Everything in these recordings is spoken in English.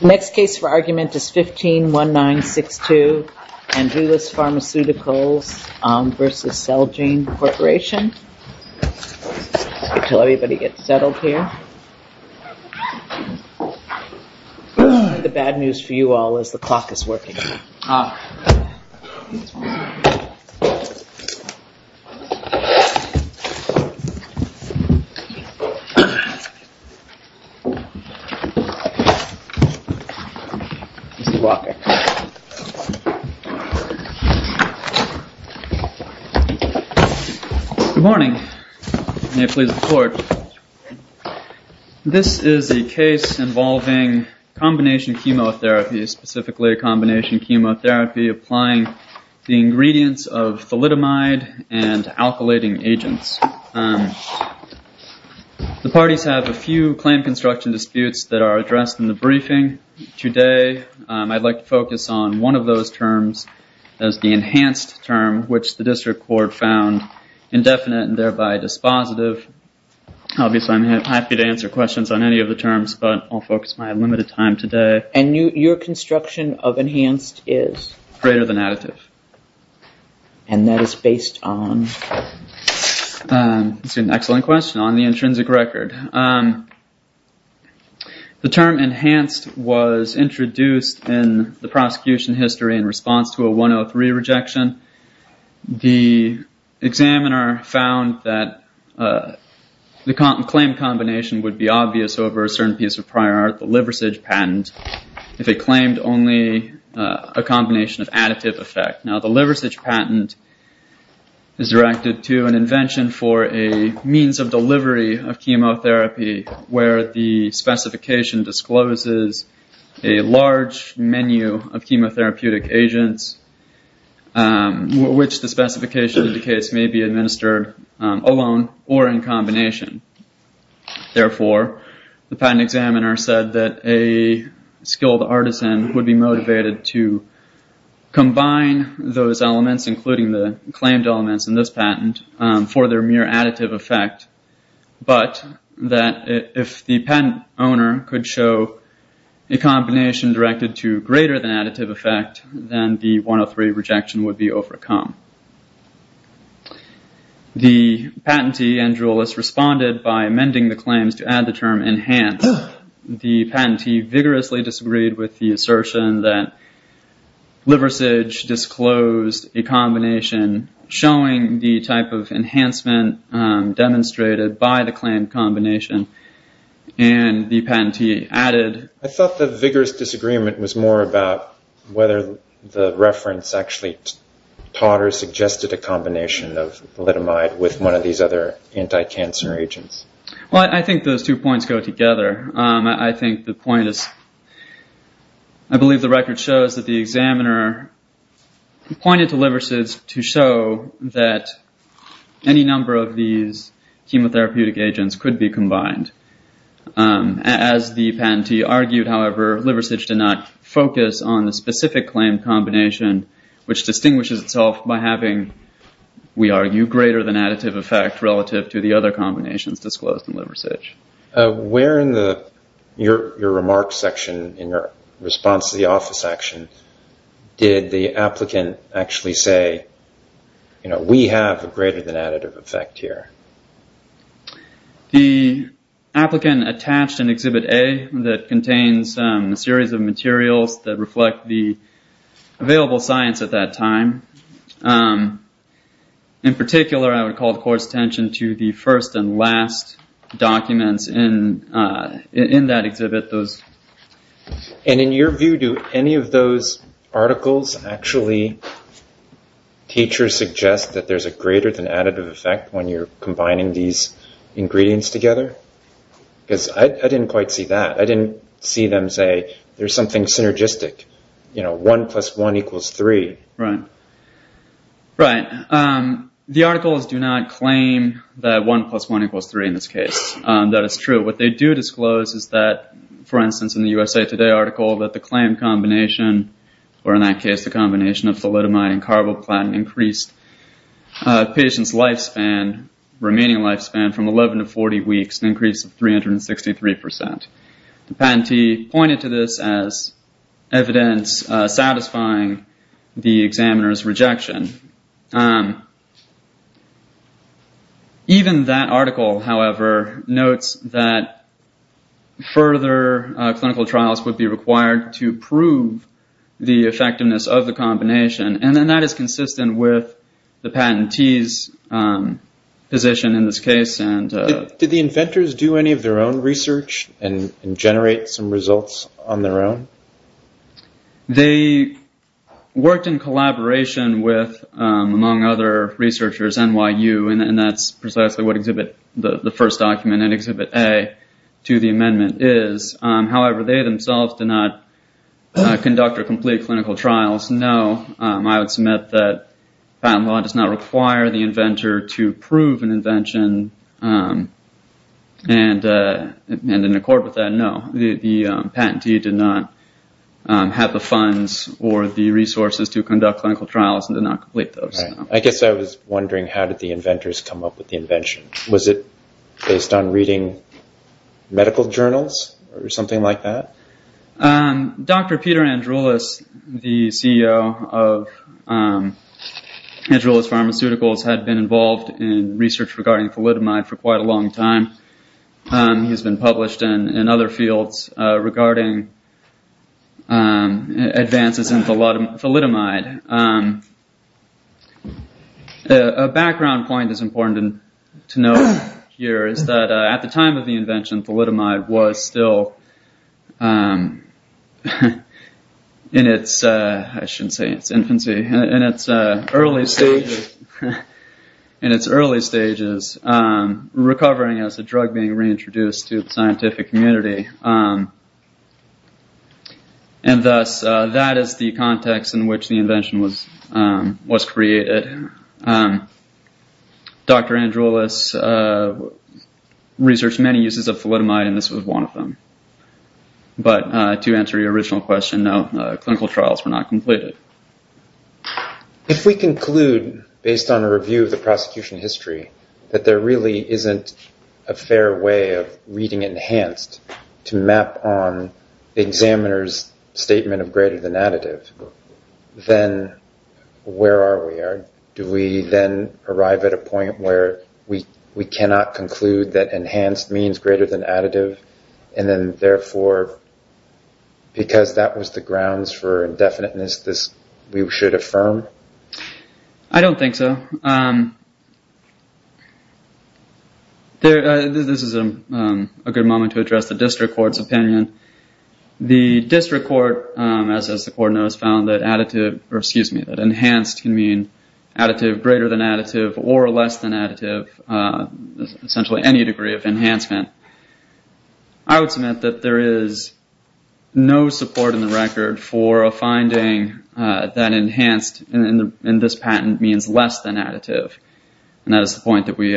Next case for argument is 151962 Andrulis Pharmaceuticals v. Celgene Corporation Good morning. May I please have the floor? This is a case involving combination chemotherapy, specifically a combination chemotherapy applying the ingredients of thalidomide and alkylating agents. The parties have a few claim construction disputes that are addressed in the briefing today. I'd like to focus on one of those terms as the enhanced term, which the district court found indefinite and thereby dispositive. Obviously, I'm happy to answer questions on any of the terms, but I'll focus my limited time today. And your construction of enhanced is? Greater than additive. And that is based on? That's an excellent question, on the intrinsic record. The term enhanced was introduced in the prosecution history in response to a 103 rejection. The examiner found that the claim combination would be obvious over a certain piece of prior art, the liversidge patent, if it claimed only a combination of additive effect. Now the liversidge patent is directed to an invention for a means of delivery of chemotherapy where the specification discloses a large menu of chemotherapeutic agents, which the specification indicates may be administered alone or in combination. Therefore, the patent examiner said that a skilled artisan would be motivated to combine those elements, including the claimed elements in this patent, for their mere additive effect, but that if the patent owner could show a combination directed to The patentee, Andrew Ellis, responded by amending the claims to add the term enhanced. The patentee vigorously disagreed with the assertion that liversidge disclosed a combination showing the type of enhancement demonstrated by the claimed combination, and the patentee added. I thought the vigorous disagreement was more about whether the reference actually taught or suggested a combination of thalidomide with one of these other anti-cancer agents. Well, I think those two points go together. I think the point is, I believe the record shows that the examiner pointed to liversidge to show that any number of these chemotherapeutic agents could be combined. As the patentee argued, however, liversidge did not focus on the specific claimed combination, which distinguishes itself by having, we argue, greater than additive effect relative to the other combinations disclosed in liversidge. Where in your remarks section, in your response to the office action, did the applicant actually say, we have a greater than additive effect here? The applicant attached an exhibit A that contains a series of materials that reflect the available science at that time. In particular, I would call the court's attention to the first and last documents in that exhibit. In your view, do any of those articles actually teach or suggest that there's a greater than additive effect when you're combining these ingredients together? Because I didn't quite see that. I didn't see them say, there's something synergistic. One plus one equals three. Right. The articles do not claim that one plus one equals three in this case. That is true. What they do disclose is that, for instance, in the USA Today article, that the claim combination, or in that case, the combination of thalidomide and carboplatin increased patient's lifespan, remaining lifespan from 11 to 40 weeks, an increase of 363%. The patentee pointed to this as evidence satisfying the examiner's rejection. Even that article, however, notes that further clinical trials would be required to prove the effectiveness of the combination. That is consistent with the patentee's position in this case. Did the inventors do any of their own research and generate some results on their own? They worked in collaboration with, among other researchers, NYU. That's precisely what the first document in exhibit A to the amendment is. However, they themselves did not conduct or complete clinical trials. No. I would submit that patent law does not require the inventor to prove an invention. In accord with that, no. The patentee did not have the funds or the resources to conduct clinical trials and did not complete those. I guess I was wondering, how did the inventors come up with the invention? Was it based on reading medical journals or something like that? Dr. Peter Andrewlis, the CEO of Andrewlis Pharmaceuticals, had been involved in research regarding thalidomide for quite a long time. He's been published in other fields regarding advances in thalidomide. A background point that's important to note here is that at the time of the invention, thalidomide was still in its early stages recovering as a drug being reintroduced to the scientific community. That is the context in which the invention was created. Dr. Andrewlis had researched many uses of thalidomide and this was one of them. But to answer your original question, no. Clinical trials were not completed. If we conclude, based on a review of the prosecution history, that there really isn't a fair way of reading enhanced to map on the examiner's statement of greater than additive, then where are we? Do we then arrive at a point where we cannot conclude that enhanced means greater than additive? And then therefore, because that was the grounds for indefiniteness, we should affirm? I don't think so. This is a good moment to address the district court's opinion. The district court, as the board knows, found that enhanced can mean additive, greater than additive, or less than additive, essentially any degree of enhancement. I would submit that there is no support in the record for a finding that enhanced in this patent means less than additive. And that is the point that we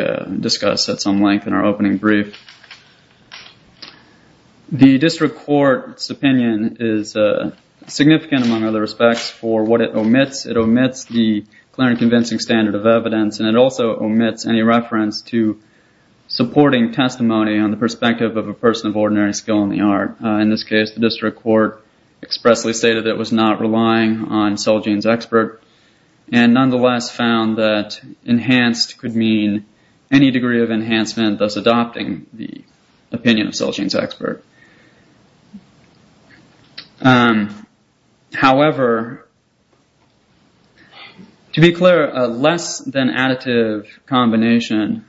for what it omits. It omits the clear and convincing standard of evidence and it also omits any reference to supporting testimony on the perspective of a person of ordinary skill in the art. In this case, the district court expressly stated that it was not relying on cell genes expert and nonetheless found that enhanced could mean any degree of enhancement, thus adopting the opinion of cell genes expert. However, to be clear, less than additive combination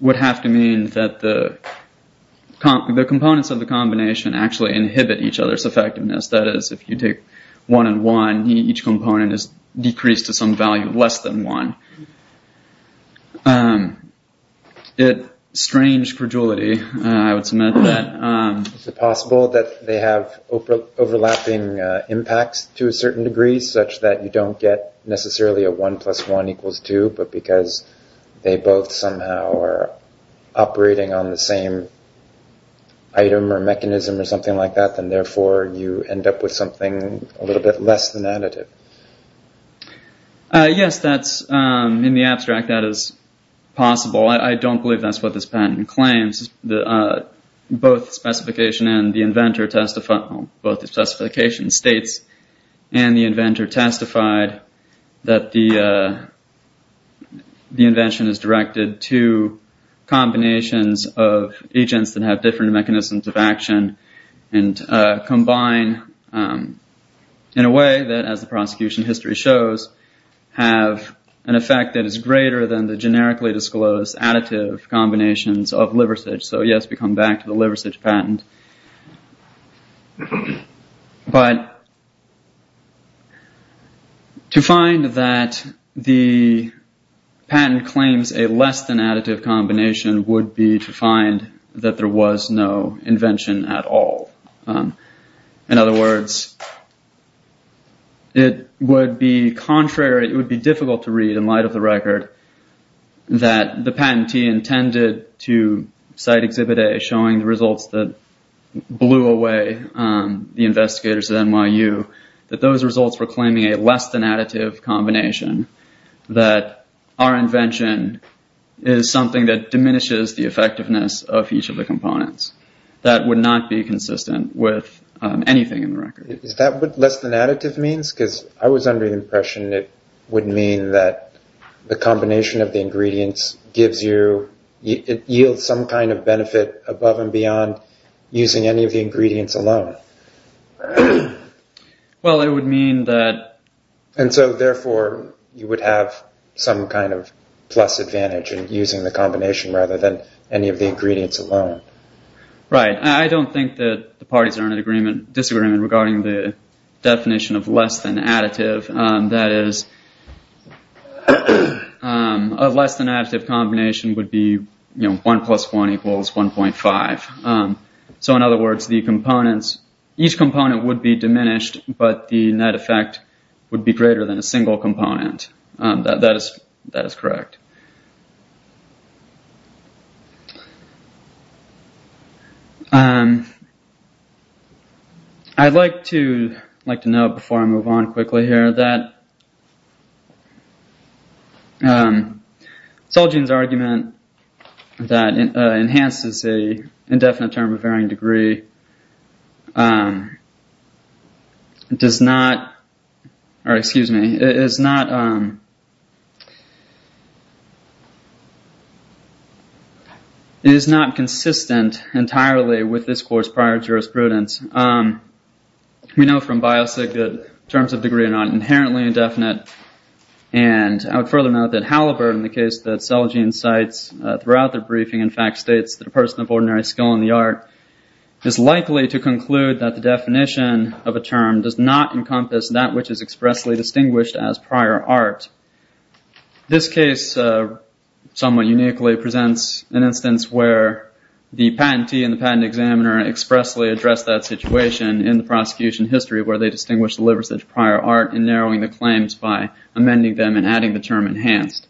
would have to mean that the components of the combination actually inhibit each other's effectiveness. That is, if you take one and one, each component is decreased to some value less than one. It's strange credulity, I would submit. Is it possible that they have overlapping impacts to a certain degree such that you don't get necessarily a one plus one equals two but because they both somehow are operating on the same item or mechanism or something like that, then therefore you end up with something a little bit less than additive? Yes, in the abstract that is possible. I don't believe that's what this patent claims. Both the specification states and the inventor testified that the invention is directed to combinations of agents that have different mechanisms of action and combine in a way that as the prosecution history shows, have an effect that is greater than the generically disclosed additive combinations of liversidge. So yes, we come back to the liversidge patent. But to find that the patent claims a less than additive combination would be to find that there was no invention at all. In other words, it would be contrary, it would be difficult to read in light of the record that the patentee intended to cite exhibit A showing the results that blew away the investigators at NYU, that those results were claiming a less than additive combination, that our invention is something that diminishes the effectiveness of each of the components. That would not be consistent with anything in the record. Is that what less than additive means? Because I was under the impression it would mean that the combination of the ingredients gives you, it yields some kind of benefit above and beyond using any of the ingredients alone. Well, it would mean that... And so therefore, you would have some kind of plus advantage in using the combination rather than any of the ingredients alone. Right. I don't think that the parties are in disagreement regarding the definition of less than additive. That is, a less than additive combination would be one plus one equals 1.5. So in other words, the components, each component would be diminished, but the net effect would be greater than a single component. That is correct. I'd like to note before I move on quickly here that Solgin's argument that enhances a indefinite term of varying degree does not, or excuse me, it is not consistent entirely with this course prior jurisprudence. We know from biosig that terms of degree are not inherently indefinite. And I would further note that Halliburton, the case that Solgin cites throughout the briefing in fact states that a person of ordinary skill in the art is likely to conclude that the definition of a term does not encompass that which is expressly distinguished as prior art. This case somewhat uniquely presents an instance where the patentee and the patent examiner expressly address that situation in the prosecution history where they distinguish prior art and narrowing the claims by amending them and adding the term enhanced.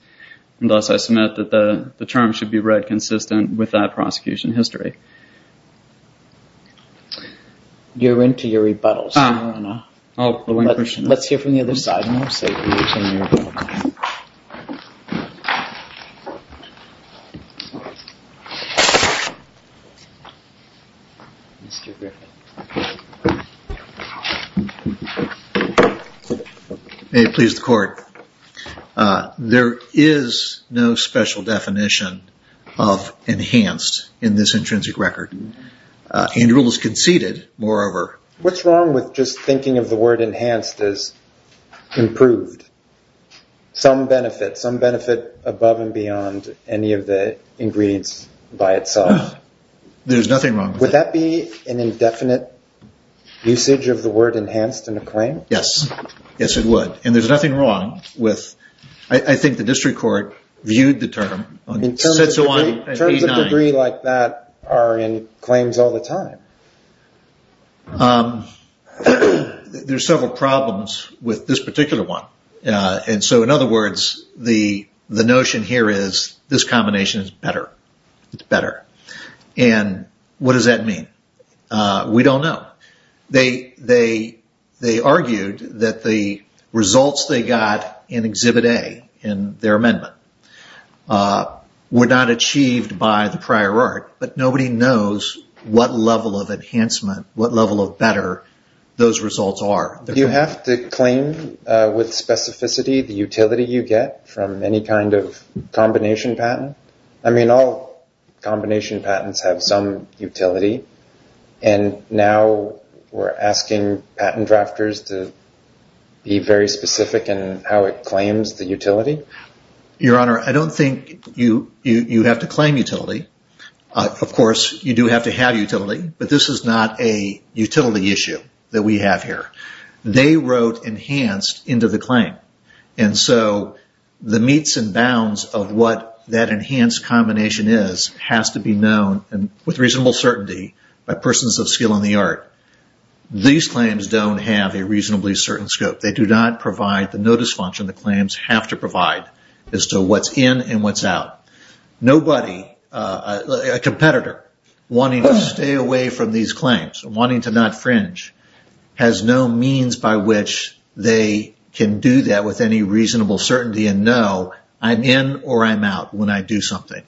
And thus I submit that the term should be read consistent with that prosecution history. You're into your rebuttals. Let's hear from the other side. May it please the court. There is no special definition of enhanced in this intrinsic record. Andrew was conceded moreover. What's wrong with just thinking of the word enhanced as improved? Some benefit, some benefit above and beyond any of the ingredients by itself. There's nothing wrong. Would that be an indefinite usage of the word enhanced in a claim? Yes. Yes, it would. And there's nothing wrong with, I think the district court viewed the term. Terms of degree like that are in claims all the time. There's several problems with this particular one. And so in other words, the notion here is this combination is better. It's better. And what does that mean? We don't know. They argued that the results they got in exhibit A in their amendment were not achieved by the prior art, but nobody knows what level of enhancement, what level of better those results are. You have to claim with specificity the utility you get from any kind of combination patent. I mean, all combination patents have some utility. And now we're asking patent drafters to be very specific in how it claims the utility. Your Honor, I don't think you have to claim utility. Of course, you do have to have utility, but this is not a utility issue that we have here. They wrote enhanced into the claim. And so the meets and bounds of what that enhanced combination is has to be known with reasonable certainty by persons of skill in the art. These claims don't have a reasonably certain scope. They do not provide the notice function the claims have to provide as to what's in and what's out. Nobody, a competitor, wanting to stay away from these claims, wanting to not fringe, has no means by which they can do that with any reasonable certainty and know I'm in or I'm out when I do something.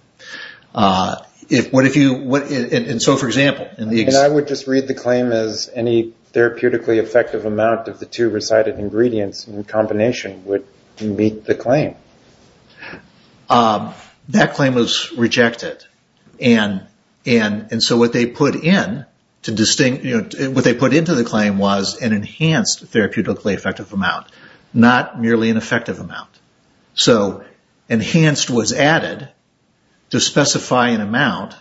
So, for example... I would just read the claim as any therapeutically effective amount of the two recited ingredients in combination would meet the claim. That claim was rejected. And so what they put into the claim was an enhanced therapeutically effective amount, not merely an effective amount. So enhanced was added to specify an amount,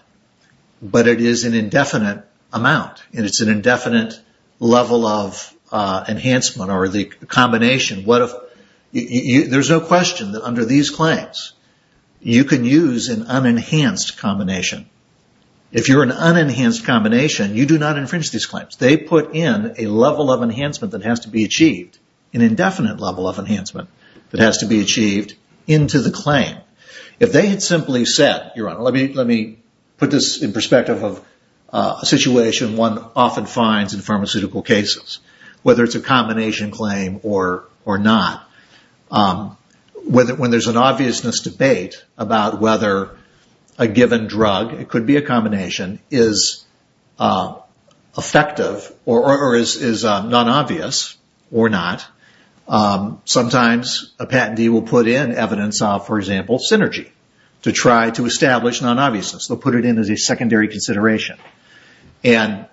but it is an indefinite amount. And it's an indefinite level of enhancement or the combination. What if... There's no question that under these claims, you can use an unenhanced combination. If you're an unenhanced combination, you do not infringe these claims. They put in a level of enhancement that has to be achieved, an indefinite level of enhancement that has to be achieved into the claim. If they had simply said, let me put this in perspective of a situation one often finds in pharmaceutical cases, whether it's a combination claim or not. When there's an obviousness debate about whether a given drug, it could be a combination, is effective or is non-obvious or not, sometimes a patentee will put in evidence of, for example, synergy to try to establish non-obviousness. They'll put it in as a secondary consideration. And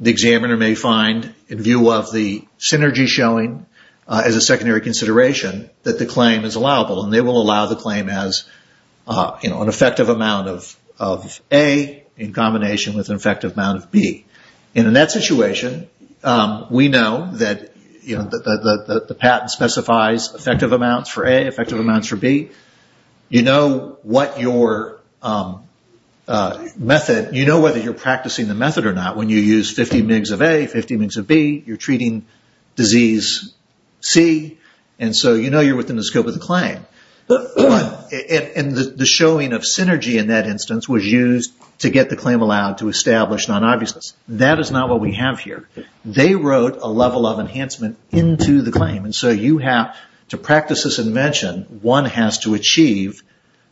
the examiner may find, in view of the synergy showing as a secondary consideration, that the claim is allowable. And they will allow the claim as an effective amount of A in combination with an effective amount of B. And in that situation, we know that the patent specifies effective amounts for A, effective amounts for B. You know whether you're practicing the method or not when you use 50 mg of A, 50 mg of B. You're treating disease C. And so you know you're within the scope of the claim. And the showing of synergy in that instance was used to get the claim allowed to establish non-obviousness. That is not what we have here. They wrote a level of enhancement into the claim. So you have to practice this invention, one has to achieve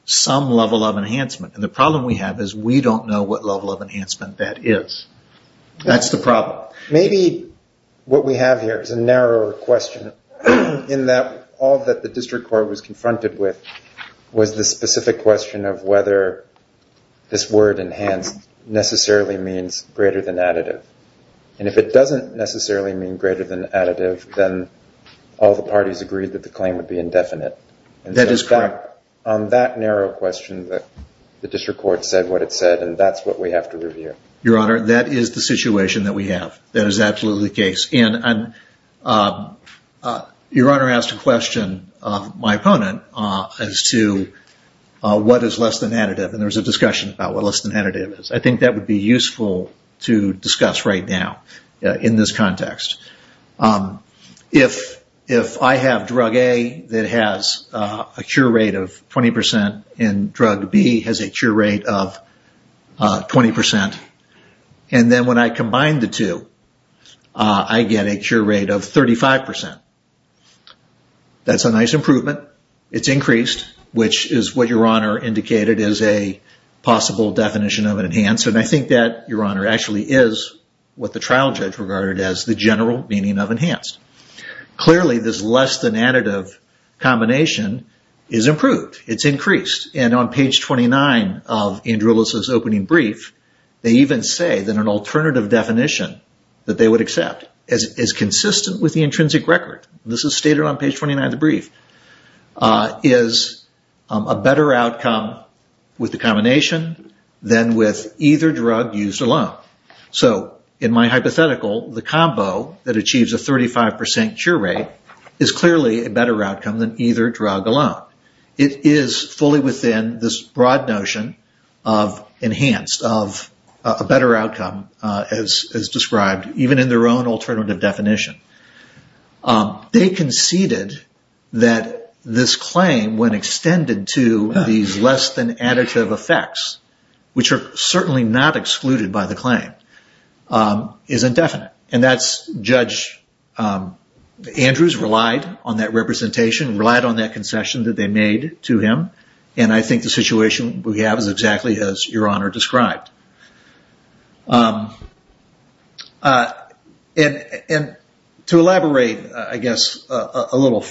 some level of enhancement. And the problem we have is we don't know what level of enhancement that is. That's the problem. Maybe what we have here is a narrower question in that all that the district court was confronted with was the specific question of whether this word enhanced necessarily means greater than additive. And if it doesn't necessarily mean greater than additive, then all the parties agreed that the claim would be indefinite. And that is correct. On that narrow question that the district court said what it said, and that's what we have to review. Your Honor, that is the situation that we have. That is absolutely the case. And Your Honor asked a question of my opponent as to what is less than additive. And there was a discussion about what less than additive is. I think that would be useful to discuss right now in this context. If I have drug A that has a cure rate of 20% and drug B has a cure rate of 20%, and then when I combine the two, I get a cure rate of 35%. That's a nice improvement. It's increased, which is what Your Honor indicated as a possible definition of an enhanced. And I think that, Your Honor, actually is what the trial judge regarded as the general meaning of enhanced. Clearly, this less than additive combination is improved. It's increased. And on page 29 of Andrew Ellis's opening brief, they even say that an alternative definition that they would accept is consistent with the intrinsic record. This is stated on page 29 of the brief, is a better outcome with the combination than with either drug used alone. So in my hypothetical, the combo that achieves a 35% cure rate is clearly a better outcome than either drug alone. It is fully within this broad notion of enhanced, of a better outcome as described, even in their own alternative definition. They conceded that this claim, when extended to these less than additive effects, which are certainly not excluded by the claim, is indefinite. And that's, Judge Andrews relied on that representation, relied on that concession that they made to him. And I think the situation we have is exactly as Your Honor described. And to elaborate, I guess, a little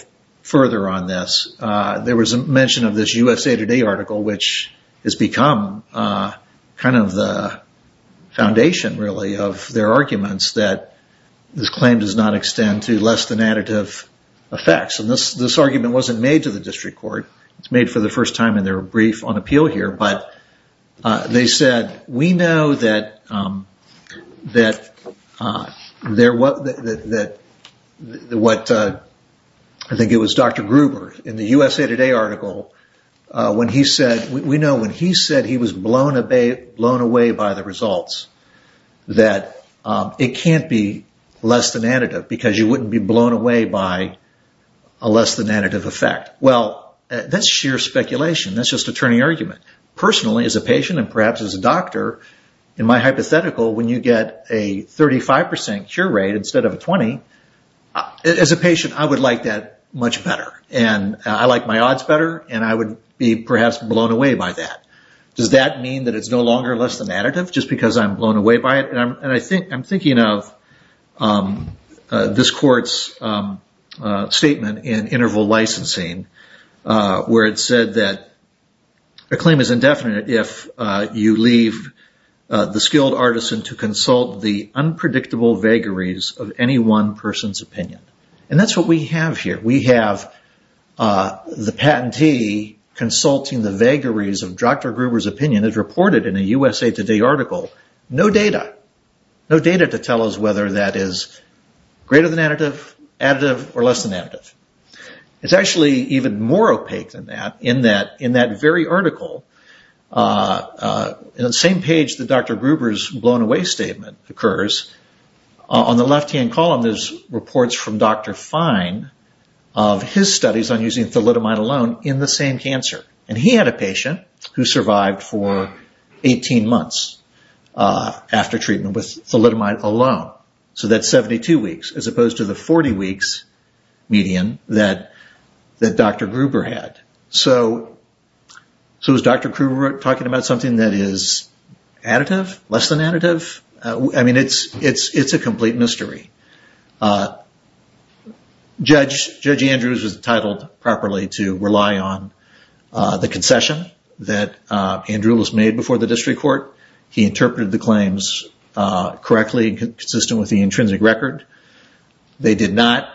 further on this, there was a mention of this USA Today article, which has become kind of the foundation, really, of their arguments that this claim does not extend to less than additive effects. And this argument wasn't made to the district court. It's made for the first time in their brief on appeal here. But they said, we know that what, I think it was Dr. Gruber in the USA Today article, when he said, we know when he said he was blown away by the results, that it can't be less than additive, because you wouldn't be blown away by a less than additive effect. Well, that's sheer speculation. That's just attorney argument. Personally, as a patient, and perhaps as a doctor, in my hypothetical, when you get a 35% cure rate instead of a 20, as a patient, I would like that much better. And I like my odds better. And I would be perhaps blown away by that. Does that mean that it's no longer less than additive, just because I'm blown away by it? And I'm thinking of this court's statement in interval licensing, where it said that a claim is indefinite if you leave the skilled artisan to consult the unpredictable vagaries of any one person's opinion. And that's what we have here. We have the patentee consulting the vagaries of Dr. Gruber's opinion as reported in a USA Today article. No data. No data to tell us whether that is greater than additive, additive, or less than additive. It's actually even more opaque than that, in that in that very article, in the same page that Dr. Gruber's blown away statement occurs, on the left-hand column, there's reports from Dr. Fine, of his studies on using thalidomide alone in the same cancer. And he had a patient who survived for 18 months after treatment with thalidomide alone. So that's 72 weeks, as opposed to the 40 weeks median that Dr. Gruber had. So is Dr. Gruber talking about something that is additive, less than additive? I mean, it's a complete mystery. Judge Andrews was entitled properly to rely on the concession that Andrews made before the district court. He interpreted the claims correctly, consistent with the intrinsic record. They did not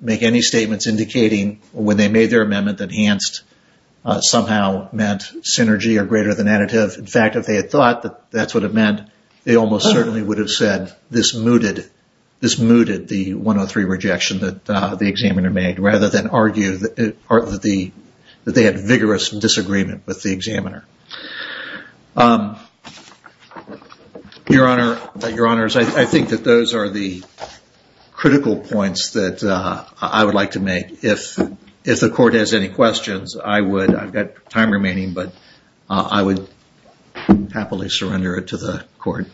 make any statements indicating when they made their amendment that enhanced somehow meant synergy or greater than additive. In fact, if they had thought that that's what it meant, they almost certainly would have said, this mooted the 103 rejection that the examiner made, rather than argue that they had vigorous disagreement with the examiner. Your honor, your honors, I think that those are the critical points that I would like to make. If the court has any questions, I've got time remaining, but I would happily surrender it to the court.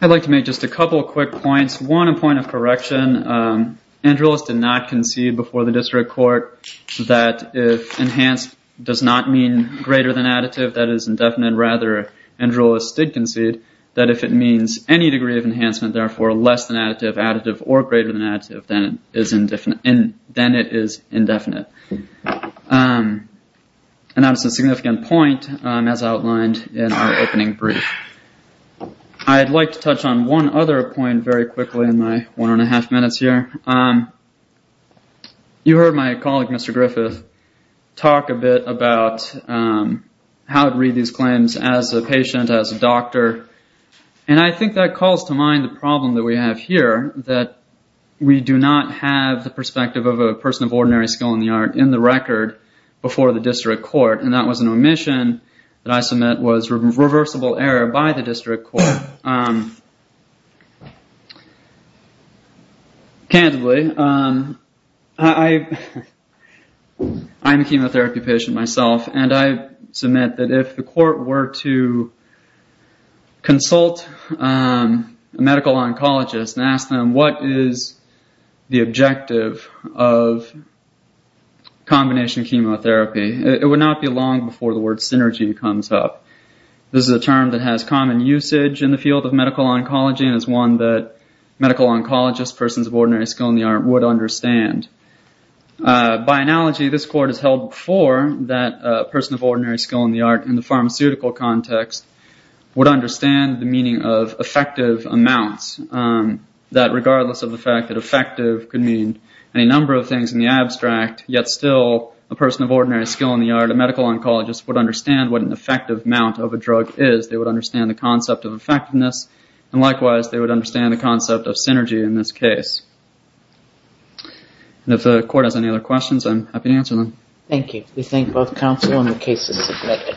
I'd like to make just a couple of quick points. One, a point of correction. Andrews did not concede before the district court that if enhanced does not mean greater than additive, that is indefinite. Andrews did concede that if it means any degree of enhancement, therefore less than additive, additive, or greater than additive, then it is indefinite. And that's a significant point as outlined in our opening brief. I'd like to touch on one other point very quickly in my one and a half minutes here. You heard my colleague, Mr. Griffith, talk a bit about how to read these claims as a patient, as a doctor. And I think that calls to mind the problem that we have here, that we do not have the perspective of a person of ordinary skill in the art in the record before the district court. And that was an omission that I submit was reversible error by the district court. Candidly, I'm a chemotherapy patient myself, and I submit that if the court were to consult a medical oncologist and ask them what is the objective of combination chemotherapy, it would not be long before the word synergy comes up. This is a term that has common usage in the field of medical oncology and is one that medical oncologists, persons of ordinary skill in the art, would understand. By analogy, this court has held before that a person of ordinary skill in the art in the pharmaceutical context would understand the meaning of effective amounts, that regardless of the fact that effective could mean any number of things in the abstract, yet still a person of ordinary skill in the art, a medical oncologist, would understand what an effective amount of a drug is. They would understand the concept of effectiveness, and likewise, they would understand the concept of synergy in this case. If the court has any other questions, I'm happy to answer them. Thank you. We thank both counsel, and the case is submitted.